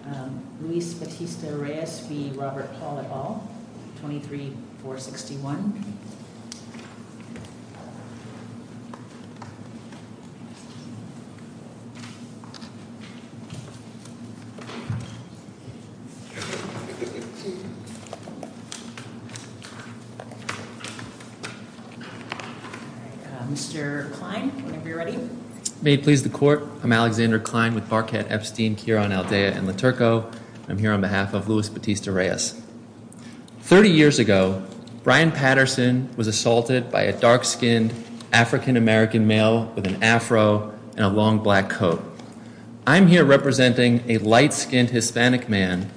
at all, 23-461. Mr. Klein, whenever you're ready. May it please the court, I'm Alexander Ronaldea and LaTurco. I'm here on behalf of Luis Batista Reyes. 30 years ago, Brian Patterson was assaulted by a dark-skinned African-American male with an afro and a long black coat. I'm here representing a light-skinned Hispanic man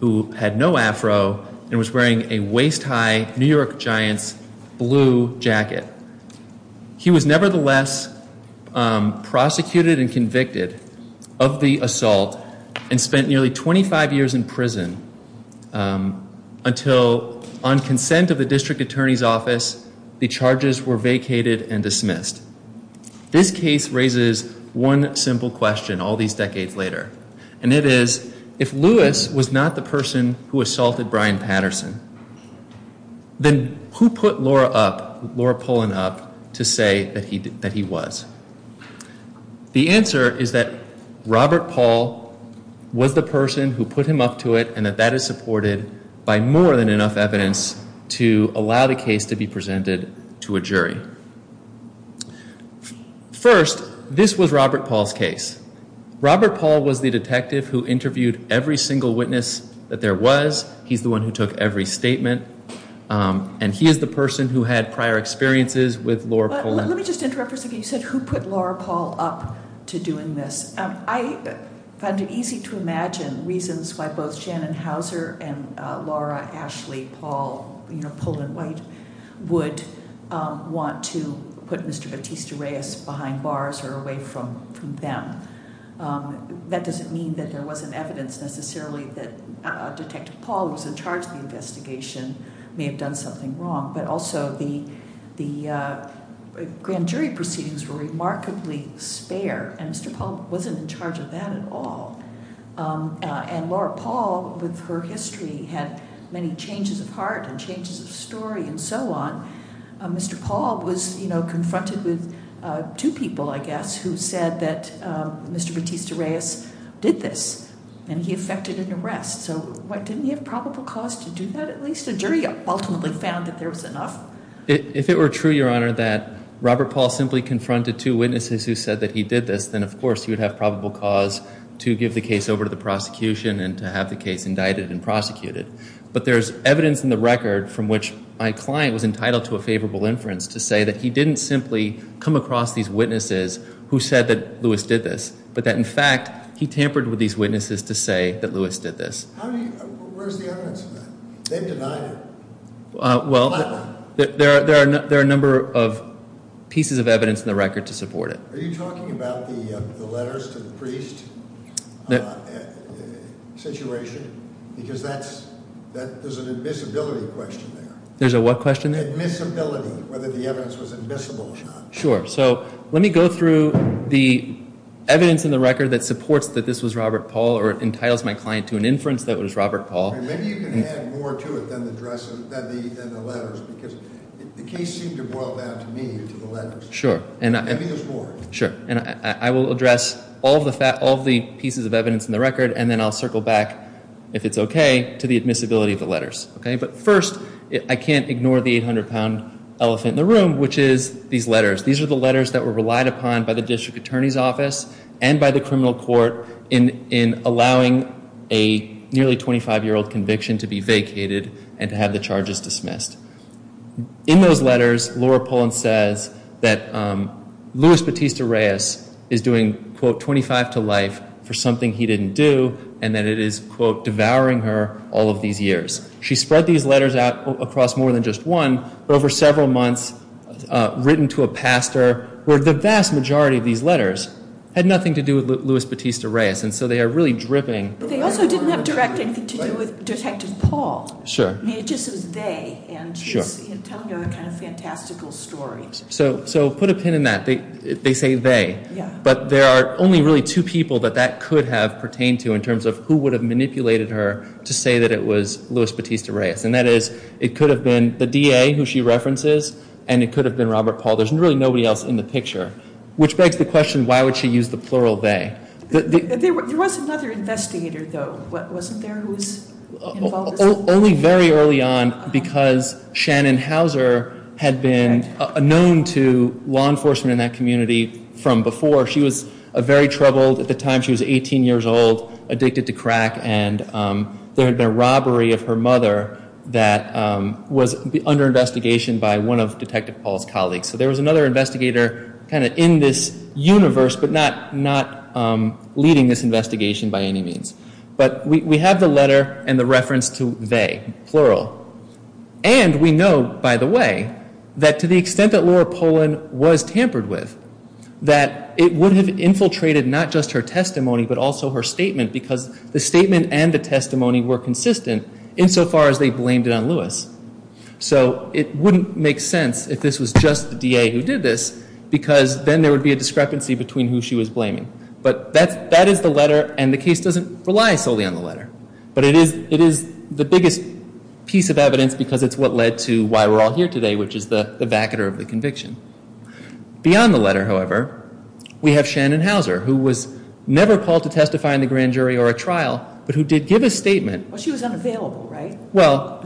who had no afro and was wearing a waist-high New York Giants blue jacket. He was nevertheless prosecuted and convicted of the assault and spent nearly 25 years in prison until on consent of the district attorney's office, the charges were vacated and dismissed. This case raises one simple question all these decades later. And it is, if Luis was not the person who assaulted Brian Patterson, then who put Laura up, Laura Pullen up, to say that he was? The answer is that Robert Paul was the person who put him up to it and that that is supported by more than enough evidence to allow the case to be presented to a jury. First, this was Robert Paul's case. Robert Paul was the detective who interviewed every single witness that there was. He's the one who took every statement and he is the person who had prior experiences with Laura Pullen. Let me just interrupt for a second. You said who put Laura Paul up to doing this? I find it easy to imagine reasons why both Shannon Houser and Laura Ashley Paul, you know Pullen White, would want to put Mr. Batista Reyes behind bars or away from them. That doesn't mean that there wasn't evidence necessarily that Detective Paul, who was in charge of the investigation, may have done something wrong. But also the grand jury proceedings were remarkably spare and Mr. Paul wasn't in charge of that at all. And Laura Paul, with her history, had many changes of heart and changes of story and so on. Mr. Paul was, you know, confronted with two people, I guess, who said that Mr. Batista Reyes did this and he affected an arrest. So didn't he have probable cause to do that? At least a jury ultimately found that there was enough. If it were true, Your Honor, that Robert Paul simply confronted two witnesses who said that he did this, then of course he would have probable cause to give the case over to the prosecution and to have the case indicted and prosecuted. But there's evidence in the record from which my client was entitled to a favorable inference to say that he didn't simply come across these witnesses who said that Lewis did this, but that in fact he tampered with these witnesses to say that Lewis did this. Where's the evidence of that? They've denied it. Well, there are a number of pieces of evidence in the record to support it. Are you talking about the letters to the priest situation? Because that's, there's an admissibility question there. There's a what question there? Admissibility, whether the evidence was admissible or not. Sure. So let me go through the evidence in the record that supports that this was Robert Paul or entitles my client to an inference that it was Robert Paul. Maybe you can add more to it than the letters because the case seemed to boil down to me, to the letters. Let me go forward. Sure. And I will address all the pieces of evidence in the record and then I'll circle back, if it's okay, to the admissibility of the letters. But first, I can't ignore the 800-pound elephant in the room, which is these letters. These are the letters that were relied upon by the district attorney's office and by the criminal court in allowing a nearly 25-year-old conviction to be vacated and to have the charges dismissed. In those letters, Laura Pullen says that Louis Batista Reyes is doing, quote, 25 to life for something he didn't do and that it is, quote, devouring her all of these years. She spread these letters out across more than just one over several months, written to a pastor, where the vast majority of these letters had nothing to do with Louis Batista Reyes and so they are really dripping. But they also didn't have direct anything to do with Detective Paul. Sure. I mean, it just was they. Sure. And she's telling a kind of fantastical story. So put a pin in that. They say they. Yeah. But there are only really two people that that could have pertained to in terms of who would have manipulated her to say that it was Louis Batista Reyes. And that is it could have been the DA, who she references, and it could have been Robert Paul. There's really nobody else in the picture, which begs the question, why would she use the plural they? There was another investigator, though, wasn't there, who was involved? Only very early on, because Shannon Hauser had been known to law enforcement in that community from before. She was very troubled at the time. She was 18 years old, addicted to crack, and there had been a robbery of her mother that was under investigation by one of Detective Paul's colleagues. So there was another investigator kind of in this universe, but not leading this investigation by any means. But we have the letter and the reference to they, plural. And we know, by the way, that to the extent that Laura Pollin was tampered with, that it would have infiltrated not just her testimony, but also her statement, because the statement and the testimony were consistent insofar as they blamed it on Louis. So it wouldn't make sense if this was just the DA who did this, because then there would be a discrepancy between who she was blaming. But that is the letter, and the case doesn't rely solely on the letter. But it is the biggest piece of evidence, because it's what led to why we're all here today, which is the vacater of the conviction. Beyond the letter, however, we have Shannon Hauser, who was never called to testify in the grand jury or a trial, but who did give a statement. Well, she was unavailable, right? Well.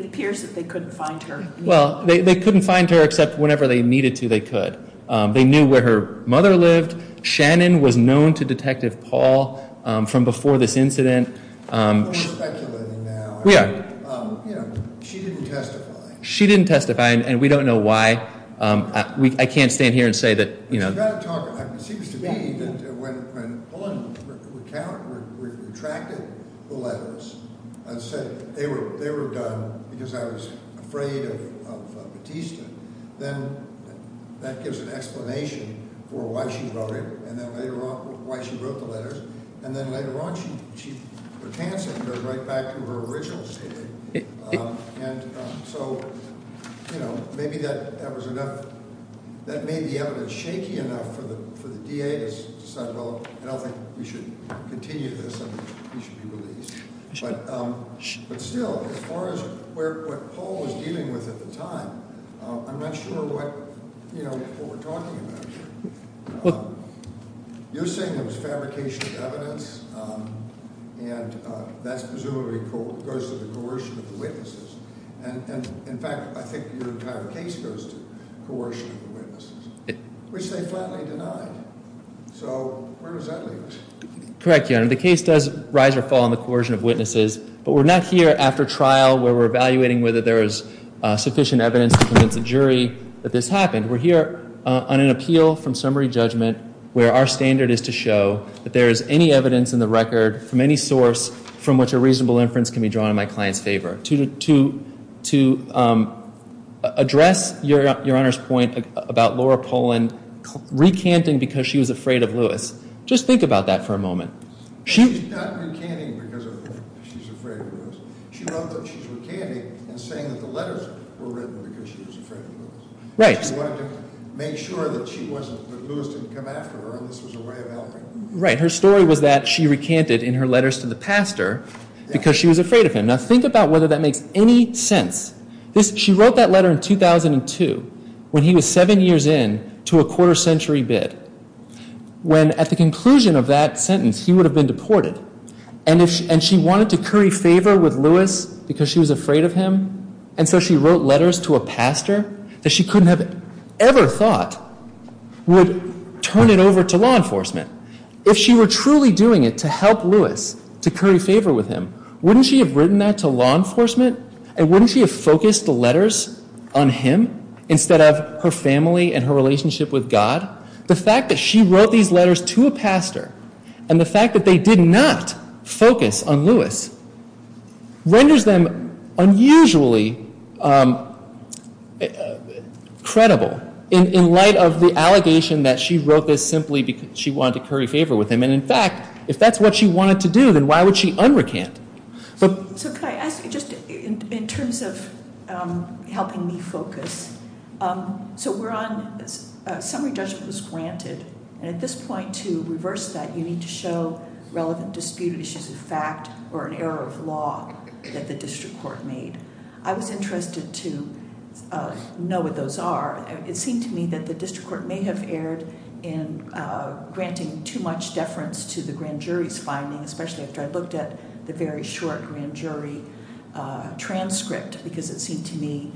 It appears that they couldn't find her. Well, they couldn't find her except whenever they needed to, they could. They knew where her mother lived. Shannon was known to Detective Paul from before this incident. We're speculating now. We are. She didn't testify. She didn't testify, and we don't know why. I can't stand here and say that, you know. It seems to me that when Pauline recounted, retracted the letters and said they were done because I was afraid of Batista, then that gives an explanation for why she wrote it and then later on why she wrote the letters. And then later on she put Hanson right back to her original statement. And so, you know, maybe that was enough. That made the evidence shaky enough for the DA to decide, well, I don't think we should continue this and he should be released. But still, as far as what Paul was dealing with at the time, I'm not sure what, you know, what we're talking about here. You're saying it was fabrication of evidence, and that presumably goes to the coercion of the witnesses. And, in fact, I think your entire case goes to coercion of the witnesses, which they flatly denied. So where does that leave us? Correct, Your Honor. The case does rise or fall on the coercion of witnesses, but we're not here after trial where we're evaluating whether there is sufficient evidence to convince a jury that this happened. We're here on an appeal from summary judgment where our standard is to show that there is any evidence in the record from any source from which a reasonable inference can be drawn in my client's favor. To address Your Honor's point about Laura Poland recanting because she was afraid of Lewis, just think about that for a moment. She's not recanting because she's afraid of Lewis. She wrote that she's recanting and saying that the letters were written because she was afraid of Lewis. Right. She wanted to make sure that she wasn't, that Lewis didn't come after her and this was a way of helping. Right. Her story was that she recanted in her letters to the pastor because she was afraid of him. Now, think about whether that makes any sense. She wrote that letter in 2002 when he was seven years in to a quarter century bid. When, at the conclusion of that sentence, he would have been deported, and she wanted to curry favor with Lewis because she was afraid of him. And so she wrote letters to a pastor that she couldn't have ever thought would turn it over to law enforcement. If she were truly doing it to help Lewis, to curry favor with him, wouldn't she have written that to law enforcement? And wouldn't she have focused the letters on him instead of her family and her relationship with God? The fact that she wrote these letters to a pastor and the fact that they did not focus on Lewis renders them unusually credible in light of the allegation that she wrote this simply because she wanted to curry favor with him. And, in fact, if that's what she wanted to do, then why would she unrecant? So could I ask, just in terms of helping me focus, so we're on summary judgment was granted. And at this point, to reverse that, you need to show relevant disputed issues of fact or an error of law that the district court made. I was interested to know what those are. It seemed to me that the district court may have erred in granting too much deference to the grand jury's findings, especially after I looked at the very short grand jury transcript because it seemed to me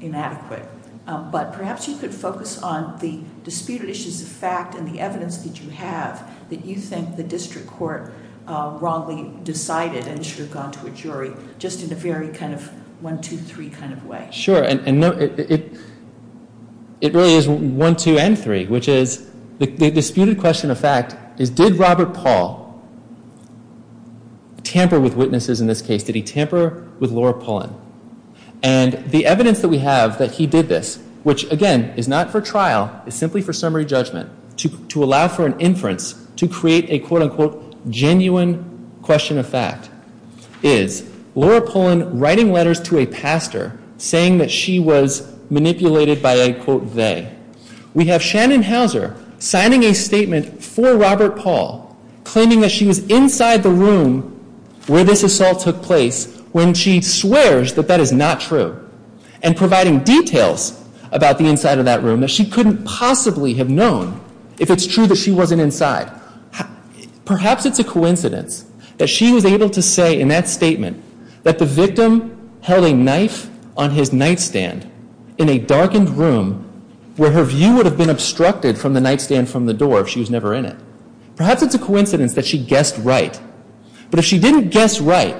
inadequate. But perhaps you could focus on the disputed issues of fact and the evidence that you have that you think the district court wrongly decided and should have gone to a jury, just in a very kind of one, two, three kind of way. Sure. And it really is one, two, and three, which is the disputed question of fact is did Robert Paul tamper with witnesses in this case? Did he tamper with Laura Pullen? And the evidence that we have that he did this, which, again, is not for trial. It's simply for summary judgment to allow for an inference to create a, quote, unquote, genuine question of fact is Laura Pullen writing letters to a pastor saying that she was manipulated by a, quote, they. We have Shannon Hauser signing a statement for Robert Paul claiming that she was inside the room where this assault took place when she swears that that is not true and providing details about the inside of that room that she couldn't possibly have known if it's true that she wasn't inside. Perhaps it's a coincidence that she was able to say in that statement that the victim held a knife on his nightstand in a darkened room where her view would have been obstructed from the nightstand from the door if she was never in it. Perhaps it's a coincidence that she guessed right. But if she didn't guess right,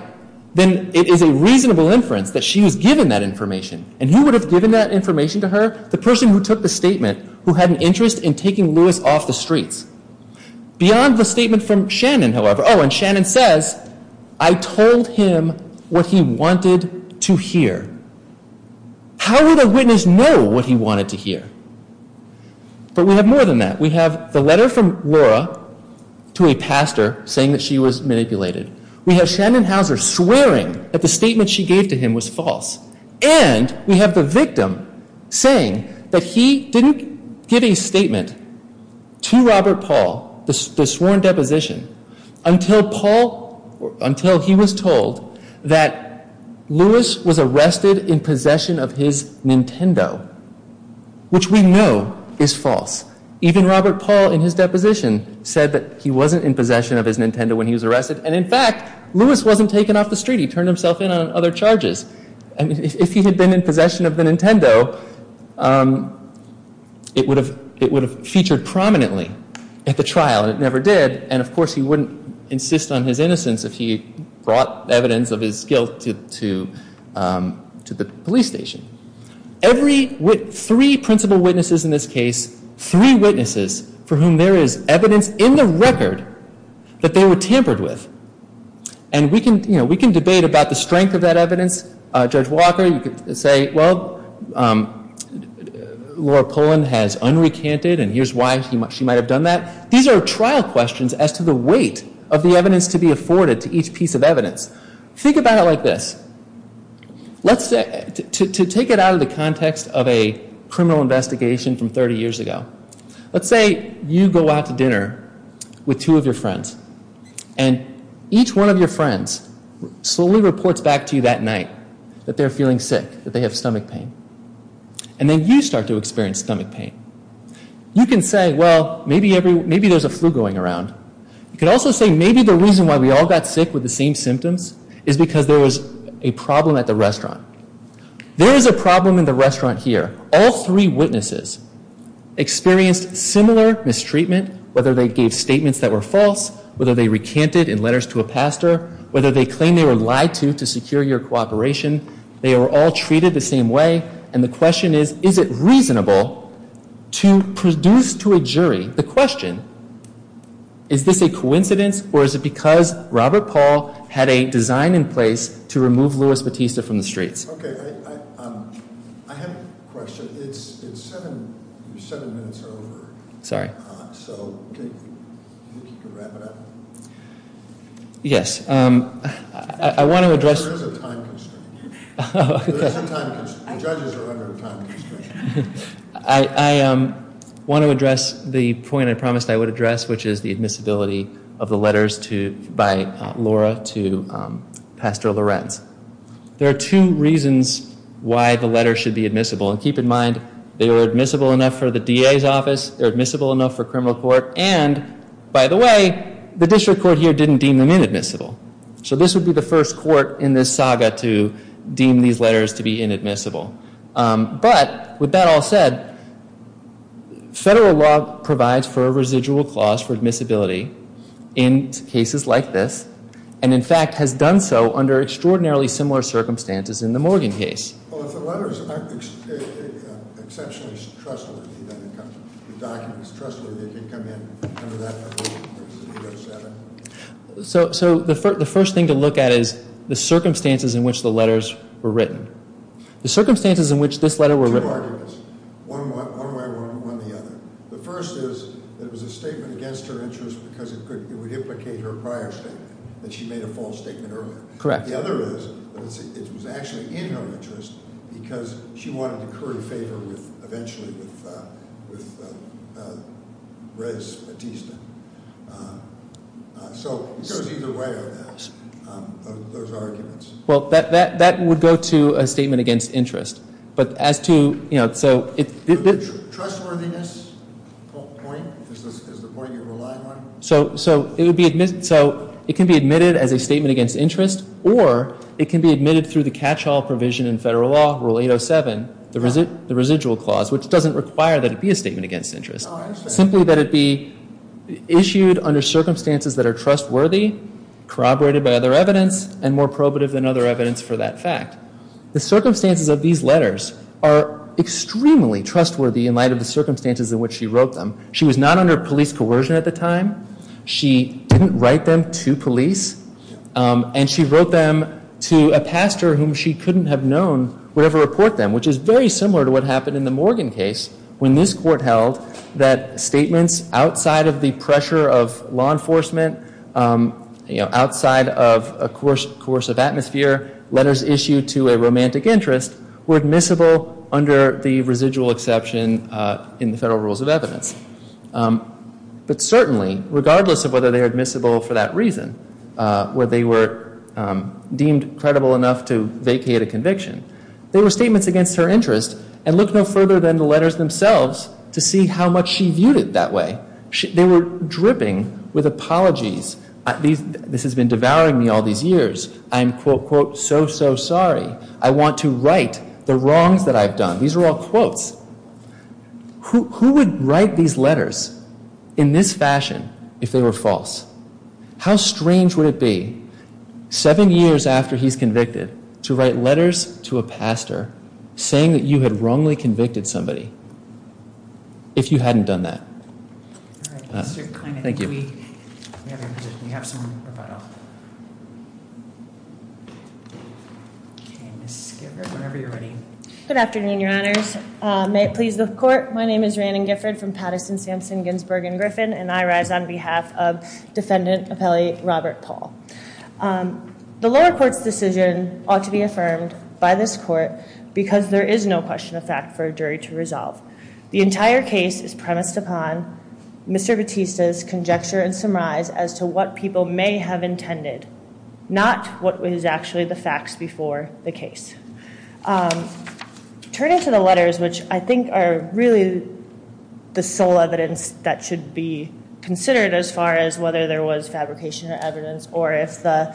then it is a reasonable inference that she was given that information. And who would have given that information to her? The person who took the statement who had an interest in taking Lewis off the streets. Beyond the statement from Shannon, however, oh, and Shannon says, I told him what he wanted to hear. How would a witness know what he wanted to hear? But we have more than that. We have the letter from Laura to a pastor saying that she was manipulated. We have Shannon Houser swearing that the statement she gave to him was false. And we have the victim saying that he didn't give a statement to Robert Paul, the sworn deposition, until he was told that Lewis was arrested in possession of his Nintendo, which we know is false. Even Robert Paul in his deposition said that he wasn't in possession of his Nintendo when he was arrested. And in fact, Lewis wasn't taken off the street. He turned himself in on other charges. And if he had been in possession of the Nintendo, it would have featured prominently at the trial. And it never did. And of course, he wouldn't insist on his innocence if he brought evidence of his guilt to the police station. Three principal witnesses in this case, three witnesses for whom there is evidence in the record that they were tampered with. And we can debate about the strength of that evidence. Judge Walker, you could say, well, Laura Pullen has unrecanted, and here's why she might have done that. These are trial questions as to the weight of the evidence to be afforded to each piece of evidence. Think about it like this. To take it out of the context of a criminal investigation from 30 years ago, let's say you go out to dinner with two of your friends. And each one of your friends slowly reports back to you that night that they're feeling sick, that they have stomach pain. And then you start to experience stomach pain. You can say, well, maybe there's a flu going around. You could also say maybe the reason why we all got sick with the same symptoms is because there was a problem at the restaurant. There is a problem in the restaurant here. All three witnesses experienced similar mistreatment, whether they gave statements that were false, whether they recanted in letters to a pastor, whether they claimed they were lied to to secure your cooperation. They were all treated the same way. And the question is, is it reasonable to produce to a jury the question, is this a coincidence, or is it because Robert Paul had a design in place to remove Louis Bautista from the streets? OK. I have a question. It's seven minutes over. Sorry. So I think you can wrap it up. Yes. I want to address. There is a time constraint. Oh, OK. The judges are under a time constraint. I want to address the point I promised I would address, which is the admissibility of the letters by Laura to Pastor Lorenz. There are two reasons why the letter should be admissible. And keep in mind, they were admissible enough for the DA's office. They were admissible enough for criminal court. And, by the way, the district court here didn't deem them inadmissible. So this would be the first court in this saga to deem these letters to be inadmissible. But, with that all said, federal law provides for a residual clause for admissibility in cases like this, and, in fact, has done so under extraordinarily similar circumstances in the Morgan case. So the first thing to look at is the circumstances in which the letters were written. The circumstances in which this letter were written. Two arguments. One way or the other. The first is that it was a statement against her interest because it would implicate her prior statement, that she made a false statement earlier. Correct. The other is that it was actually in her interest because she wanted to curry favor eventually with Rez Batista. So it goes either way on those arguments. Well, that would go to a statement against interest. But as to, you know, so... The trustworthiness point is the point you're relying on? So it can be admitted as a statement against interest, or it can be admitted through the catch-all provision in federal law, Rule 807, the residual clause, which doesn't require that it be a statement against interest. Oh, I understand. Simply that it be issued under circumstances that are trustworthy, corroborated by other evidence, and more probative than other evidence for that fact. The circumstances of these letters are extremely trustworthy in light of the circumstances in which she wrote them. She was not under police coercion at the time. She didn't write them to police. And she wrote them to a pastor whom she couldn't have known would ever report them, which is very similar to what happened in the Morgan case, when this court held that statements outside of the pressure of law enforcement, you know, outside of a coercive atmosphere, letters issued to a romantic interest, were admissible under the residual exception in the federal rules of evidence. But certainly, regardless of whether they are admissible for that reason, where they were deemed credible enough to vacate a conviction, they were statements against her interest and looked no further than the letters themselves to see how much she viewed it that way. They were dripping with apologies. This has been devouring me all these years. I'm, quote, quote, so, so sorry. I want to write the wrongs that I've done. These are all quotes. Who would write these letters in this fashion if they were false? How strange would it be, seven years after he's convicted, to write letters to a pastor saying that you had wrongly convicted somebody if you hadn't done that? All right, Mr. Kline. Thank you. We have your position. You have some rebuttal. Okay, Ms. Skipper, whenever you're ready. Good afternoon, Your Honors. May it please the Court. My name is Ranan Gifford from Patterson, Sampson, Ginsburg & Griffin, and I rise on behalf of Defendant Appellee Robert Paul. The lower court's decision ought to be affirmed by this court because there is no question of fact for a jury to resolve. The entire case is premised upon Mr. Batista's conjecture and surmise as to what people may have intended, not what was actually the facts before the case. Turning to the letters, which I think are really the sole evidence that should be considered as far as whether there was fabrication of evidence or if the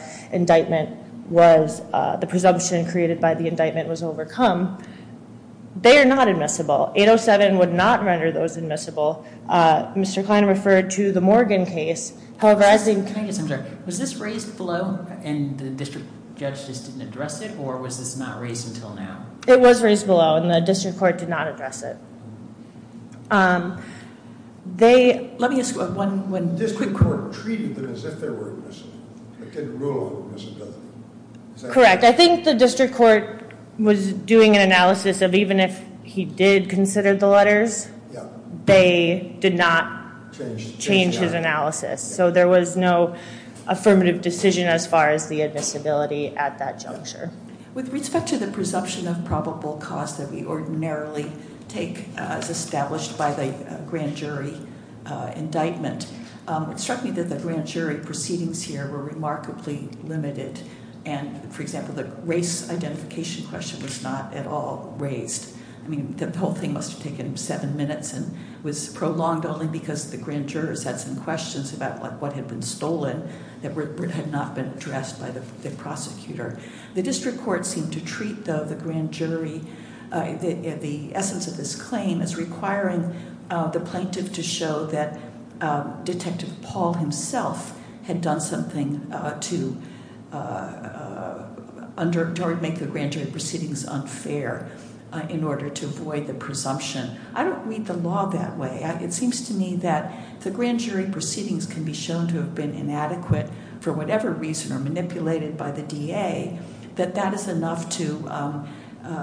presumption created by the indictment was overcome, they are not admissible. 807 would not render those admissible. Mr. Kline referred to the Morgan case. However, was this raised below and the district judge just didn't address it, or was this not raised until now? It was raised below, and the district court did not address it. Let me ask one. The district court treated them as if they were admissible. It didn't rule on admissibility. Correct. I think the district court was doing an analysis of even if he did consider the letters, they did not change his analysis. So there was no affirmative decision as far as the admissibility at that juncture. With respect to the presumption of probable cause that we ordinarily take as established by the grand jury indictment, it struck me that the grand jury proceedings here were remarkably limited. And, for example, the race identification question was not at all raised. I mean, the whole thing must have taken seven minutes and was prolonged only because the grand jurors had some questions about what had been stolen that had not been addressed by the prosecutor. The district court seemed to treat, though, the grand jury, the essence of this claim, as requiring the plaintiff to show that Detective Paul himself had done something to make the grand jury proceedings unfair. In order to avoid the presumption. I don't read the law that way. It seems to me that the grand jury proceedings can be shown to have been inadequate for whatever reason, or manipulated by the DA, that that is enough to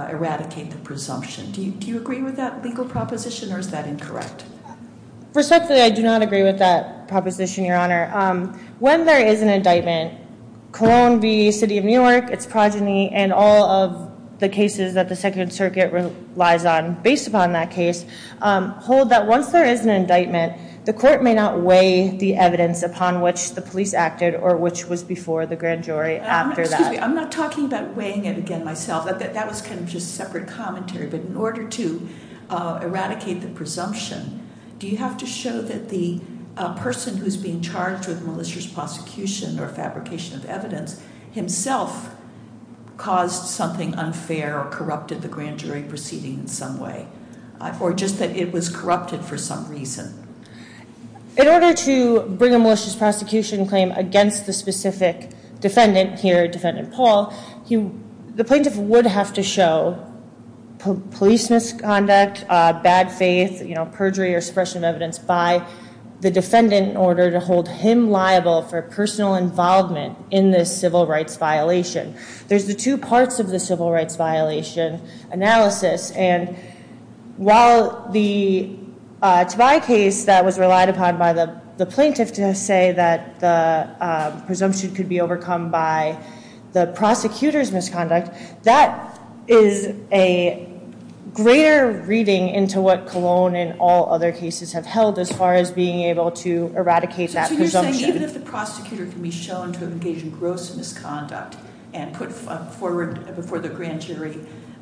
eradicate the presumption. Do you agree with that legal proposition, or is that incorrect? Respectfully, I do not agree with that proposition, Your Honor. When there is an indictment, Cologne v. City of New York, its progeny, and all of the cases that the Second Circuit relies on based upon that case, hold that once there is an indictment, the court may not weigh the evidence upon which the police acted, or which was before the grand jury after that. Excuse me, I'm not talking about weighing it again myself. That was kind of just separate commentary. But in order to eradicate the presumption, do you have to show that the person who is being charged with malicious prosecution or fabrication of evidence himself caused something unfair or corrupted the grand jury proceedings in some way, or just that it was corrupted for some reason? In order to bring a malicious prosecution claim against the specific defendant here, police misconduct, bad faith, perjury or suppression of evidence by the defendant in order to hold him liable for personal involvement in this civil rights violation. There's the two parts of the civil rights violation analysis, and while the Tobias case that was relied upon by the plaintiff to say that the presumption could be overcome by the prosecutor's misconduct, that is a greater reading into what Colon and all other cases have held as far as being able to eradicate that presumption. So you're saying even if the prosecutor can be shown to engage in gross misconduct and put forward before the grand jury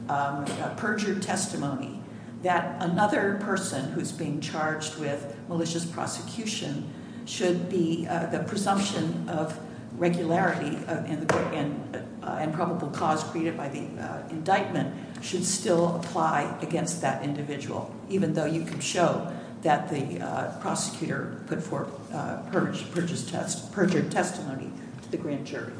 a perjured testimony, that another person who's being charged with malicious prosecution should be the presumption of regularity and probable cause created by the indictment should still apply against that individual, even though you can show that the prosecutor put forward perjured testimony to the grand jury?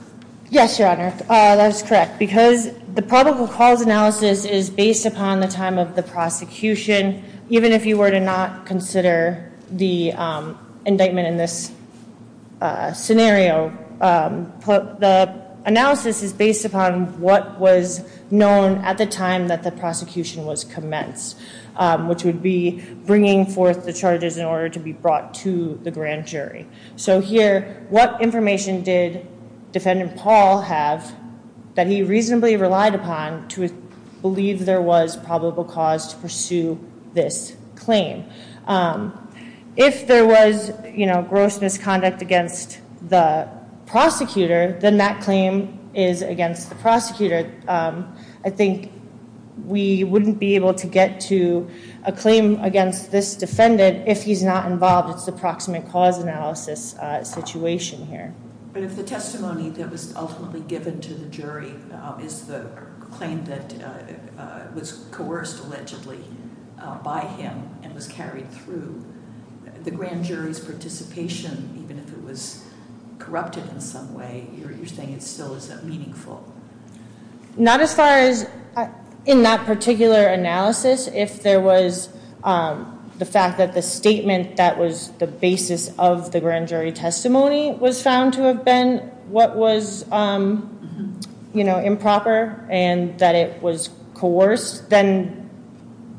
Yes, Your Honor, that's correct, because the probable cause analysis is based upon the time of the prosecution, even if you were to not consider the indictment in this scenario. The analysis is based upon what was known at the time that the prosecution was commenced, which would be bringing forth the charges in order to be brought to the grand jury. So here, what information did Defendant Paul have that he reasonably relied upon to believe there was probable cause to pursue this claim? If there was gross misconduct against the prosecutor, then that claim is against the prosecutor. I think we wouldn't be able to get to a claim against this defendant if he's not involved. It's the proximate cause analysis situation here. But if the testimony that was ultimately given to the jury is the claim that was coerced allegedly by him and was carried through, the grand jury's participation, even if it was corrupted in some way, you're saying it still isn't meaningful? Not as far as in that particular analysis. If there was the fact that the statement that was the basis of the grand jury testimony was found to have been what was improper and that it was coerced, then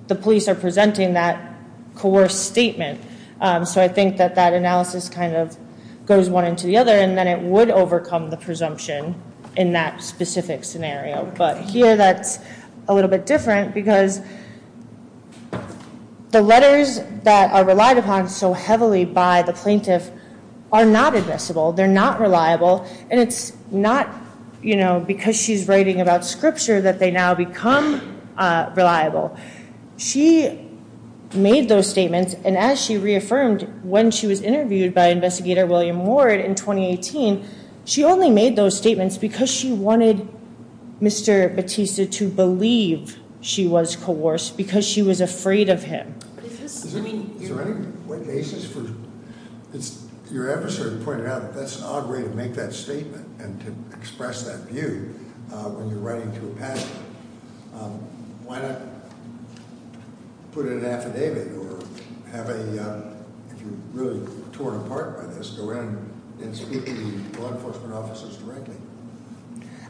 the police are presenting that coerced statement. So I think that that analysis kind of goes one into the other, and then it would overcome the presumption in that specific scenario. But here that's a little bit different because the letters that are relied upon so heavily by the plaintiff are not admissible. They're not reliable, and it's not because she's writing about scripture that they now become reliable. She made those statements, and as she reaffirmed when she was interviewed by investigator William Ward in 2018, she only made those statements because she wanted Mr. Batista to believe she was coerced, because she was afraid of him. Is there any basis for your emissary pointed out that that's an odd way to make that statement and to express that view when you're writing to a patent? Why not put it in an affidavit or have a, if you're really torn apart by this, go in and speak to law enforcement officers directly?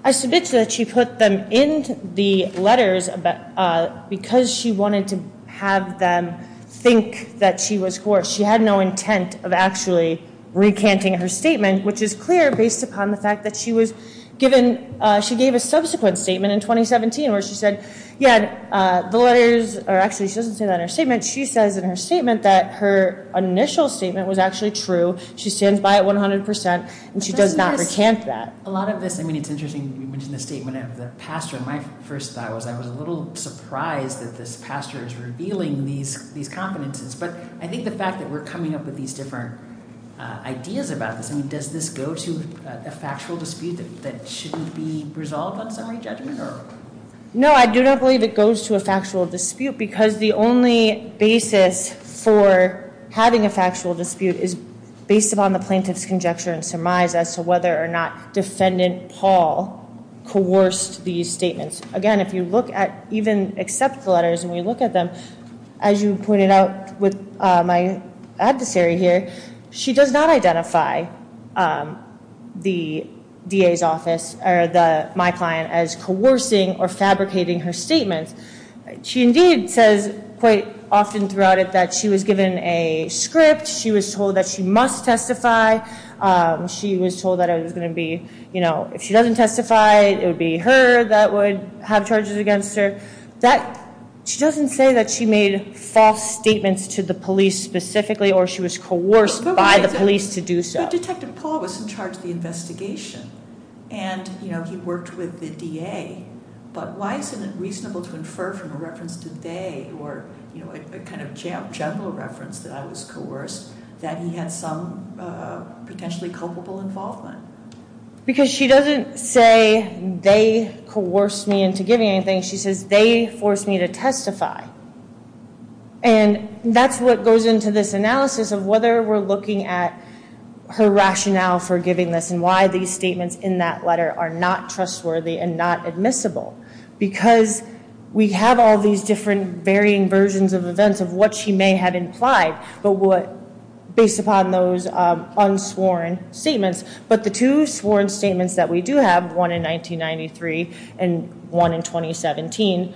I submit to you that she put them in the letters because she wanted to have them think that she was coerced. She had no intent of actually recanting her statement, which is clear based upon the fact that she was given, she gave a subsequent statement in 2017 where she said, yeah, the letters, or actually she doesn't say that in her statement. She says in her statement that her initial statement was actually true. She stands by it 100 percent, and she does not recant that. A lot of this, I mean, it's interesting you mentioned the statement of the pastor. My first thought was I was a little surprised that this pastor is revealing these confidences, but I think the fact that we're coming up with these different ideas about this, I mean, does this go to a factual dispute that shouldn't be resolved on summary judgment? No, I do not believe it goes to a factual dispute because the only basis for having a factual dispute is based upon the plaintiff's conjecture and surmise as to whether or not Defendant Paul coerced these statements. Again, if you look at even except the letters and we look at them, as you pointed out with my adversary here, she does not identify the DA's office or my client as coercing or fabricating her statement. She indeed says quite often throughout it that she was given a script. She was told that she must testify. She was told that it was going to be, you know, if she doesn't testify, it would be her that would have charges against her. She doesn't say that she made false statements to the police specifically or she was coerced by the police to do so. But Detective Paul was in charge of the investigation and, you know, he worked with the DA, but why isn't it reasonable to infer from a reference to they or, you know, a kind of general reference that I was coerced that he had some potentially culpable involvement? Because she doesn't say they coerced me into giving anything. She says they forced me to testify. And that's what goes into this analysis of whether we're looking at her rationale for giving this and why these statements in that letter are not trustworthy and not admissible. Because we have all these different varying versions of events of what she may have implied, based upon those unsworn statements. But the two sworn statements that we do have, one in 1993 and one in 2017,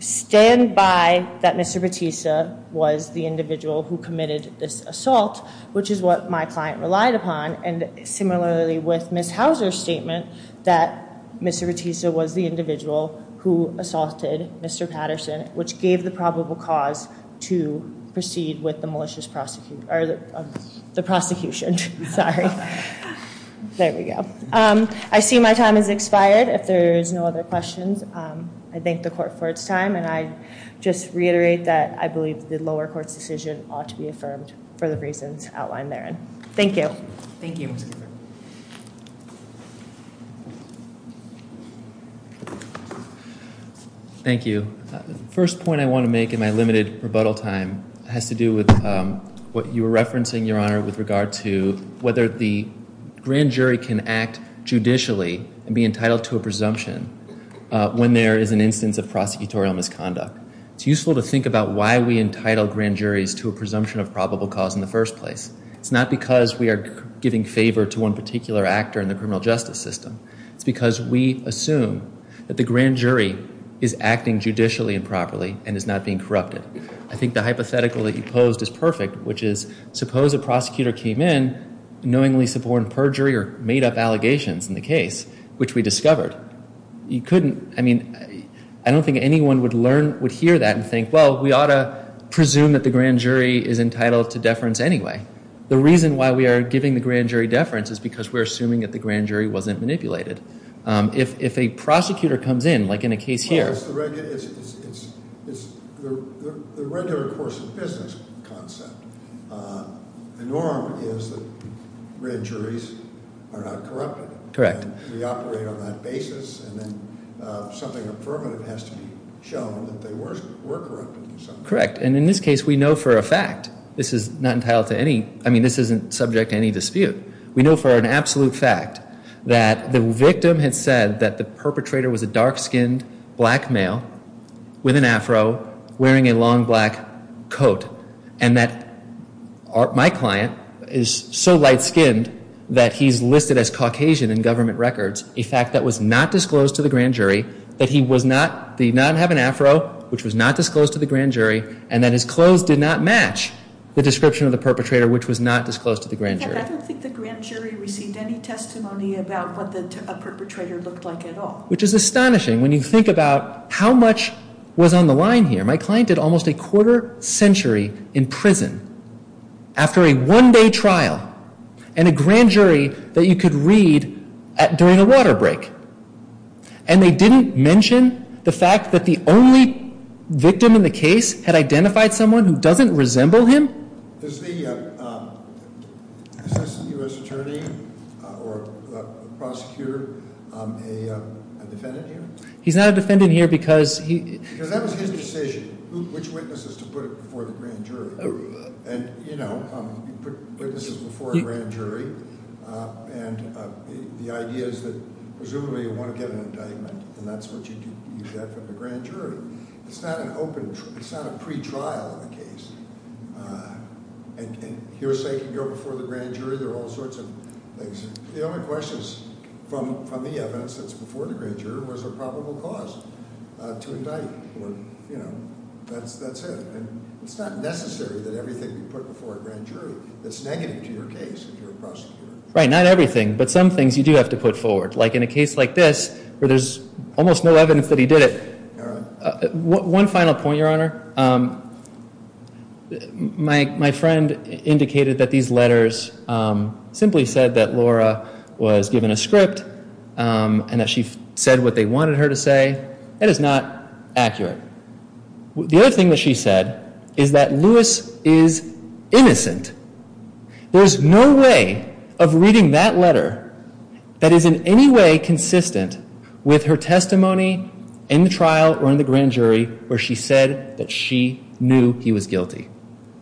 stand by that Mr. Batista was the individual who committed this assault, which is what my client relied upon. And similarly with Ms. Houser's statement that Mr. Batista was the individual who assaulted Mr. Patterson, which gave the probable cause to proceed with the malicious prosecution or the prosecution. Sorry. There we go. I see my time has expired. If there is no other questions, I thank the court for its time. And I just reiterate that I believe the lower court's decision ought to be affirmed for the reasons outlined therein. Thank you. Thank you. Thank you. The first point I want to make in my limited rebuttal time has to do with what you were referencing, Your Honor, with regard to whether the grand jury can act judicially and be entitled to a presumption when there is an instance of prosecutorial misconduct. It's useful to think about why we entitle grand juries to a presumption of probable cause in the first place. It's not because we are giving favor to one particular actor in the criminal justice system. It's because we assume that the grand jury is acting judicially and properly and is not being corrupted. I think the hypothetical that you posed is perfect, which is suppose a prosecutor came in, knowingly supported perjury or made up allegations in the case, which we discovered. You couldn't, I mean, I don't think anyone would hear that and think, well, we ought to presume that the grand jury is entitled to deference anyway. The reason why we are giving the grand jury deference is because we're assuming that the grand jury wasn't manipulated. If a prosecutor comes in, like in a case here. Well, it's the regular course of business concept. The norm is that grand juries are not corrupted. Correct. Correct. And in this case, we know for a fact this is not entitled to any. I mean, this isn't subject to any dispute. We know for an absolute fact that the victim had said that the perpetrator was a dark skinned black male with an Afro wearing a long black coat. And that my client is so light skinned that he's listed as Caucasian in government records. A fact that was not disclosed to the grand jury. That he did not have an Afro, which was not disclosed to the grand jury. And that his clothes did not match the description of the perpetrator, which was not disclosed to the grand jury. I don't think the grand jury received any testimony about what the perpetrator looked like at all. Which is astonishing when you think about how much was on the line here. My client did almost a quarter century in prison after a one day trial and a grand jury that you could read during a water break. And they didn't mention the fact that the only victim in the case had identified someone who doesn't resemble him? Is the U.S. attorney or prosecutor a defendant here? He's not a defendant here because he... Which witnesses to put it before the grand jury? And you know, witnesses before a grand jury. And the idea is that presumably you want to get an indictment. And that's what you get from the grand jury. It's not an open, it's not a pretrial in the case. And hearsay can go before the grand jury. There are all sorts of things. The only questions from the evidence that's before the grand jury was a probable cause to indict. That's it. It's not necessary that everything be put before a grand jury. That's negative to your case if you're a prosecutor. Right, not everything. But some things you do have to put forward. Like in a case like this where there's almost no evidence that he did it. One final point, Your Honor. My friend indicated that these letters simply said that Laura was given a script. And that she said what they wanted her to say. That is not accurate. The other thing that she said is that Lewis is innocent. There's no way of reading that letter that is in any way consistent with her testimony in the trial or in the grand jury where she said that she knew he was guilty.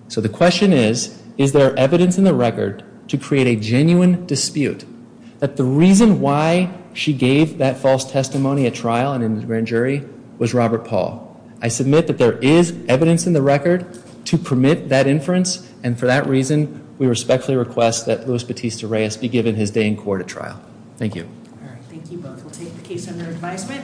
So the question is, is there evidence in the record to create a genuine dispute that the reason why she gave that false testimony at trial and in the grand jury was Robert Paul. I submit that there is evidence in the record to permit that inference. And for that reason, we respectfully request that Lewis Batista Reyes be given his day in court at trial. Thank you. Thank you both. We'll take the case under advisement.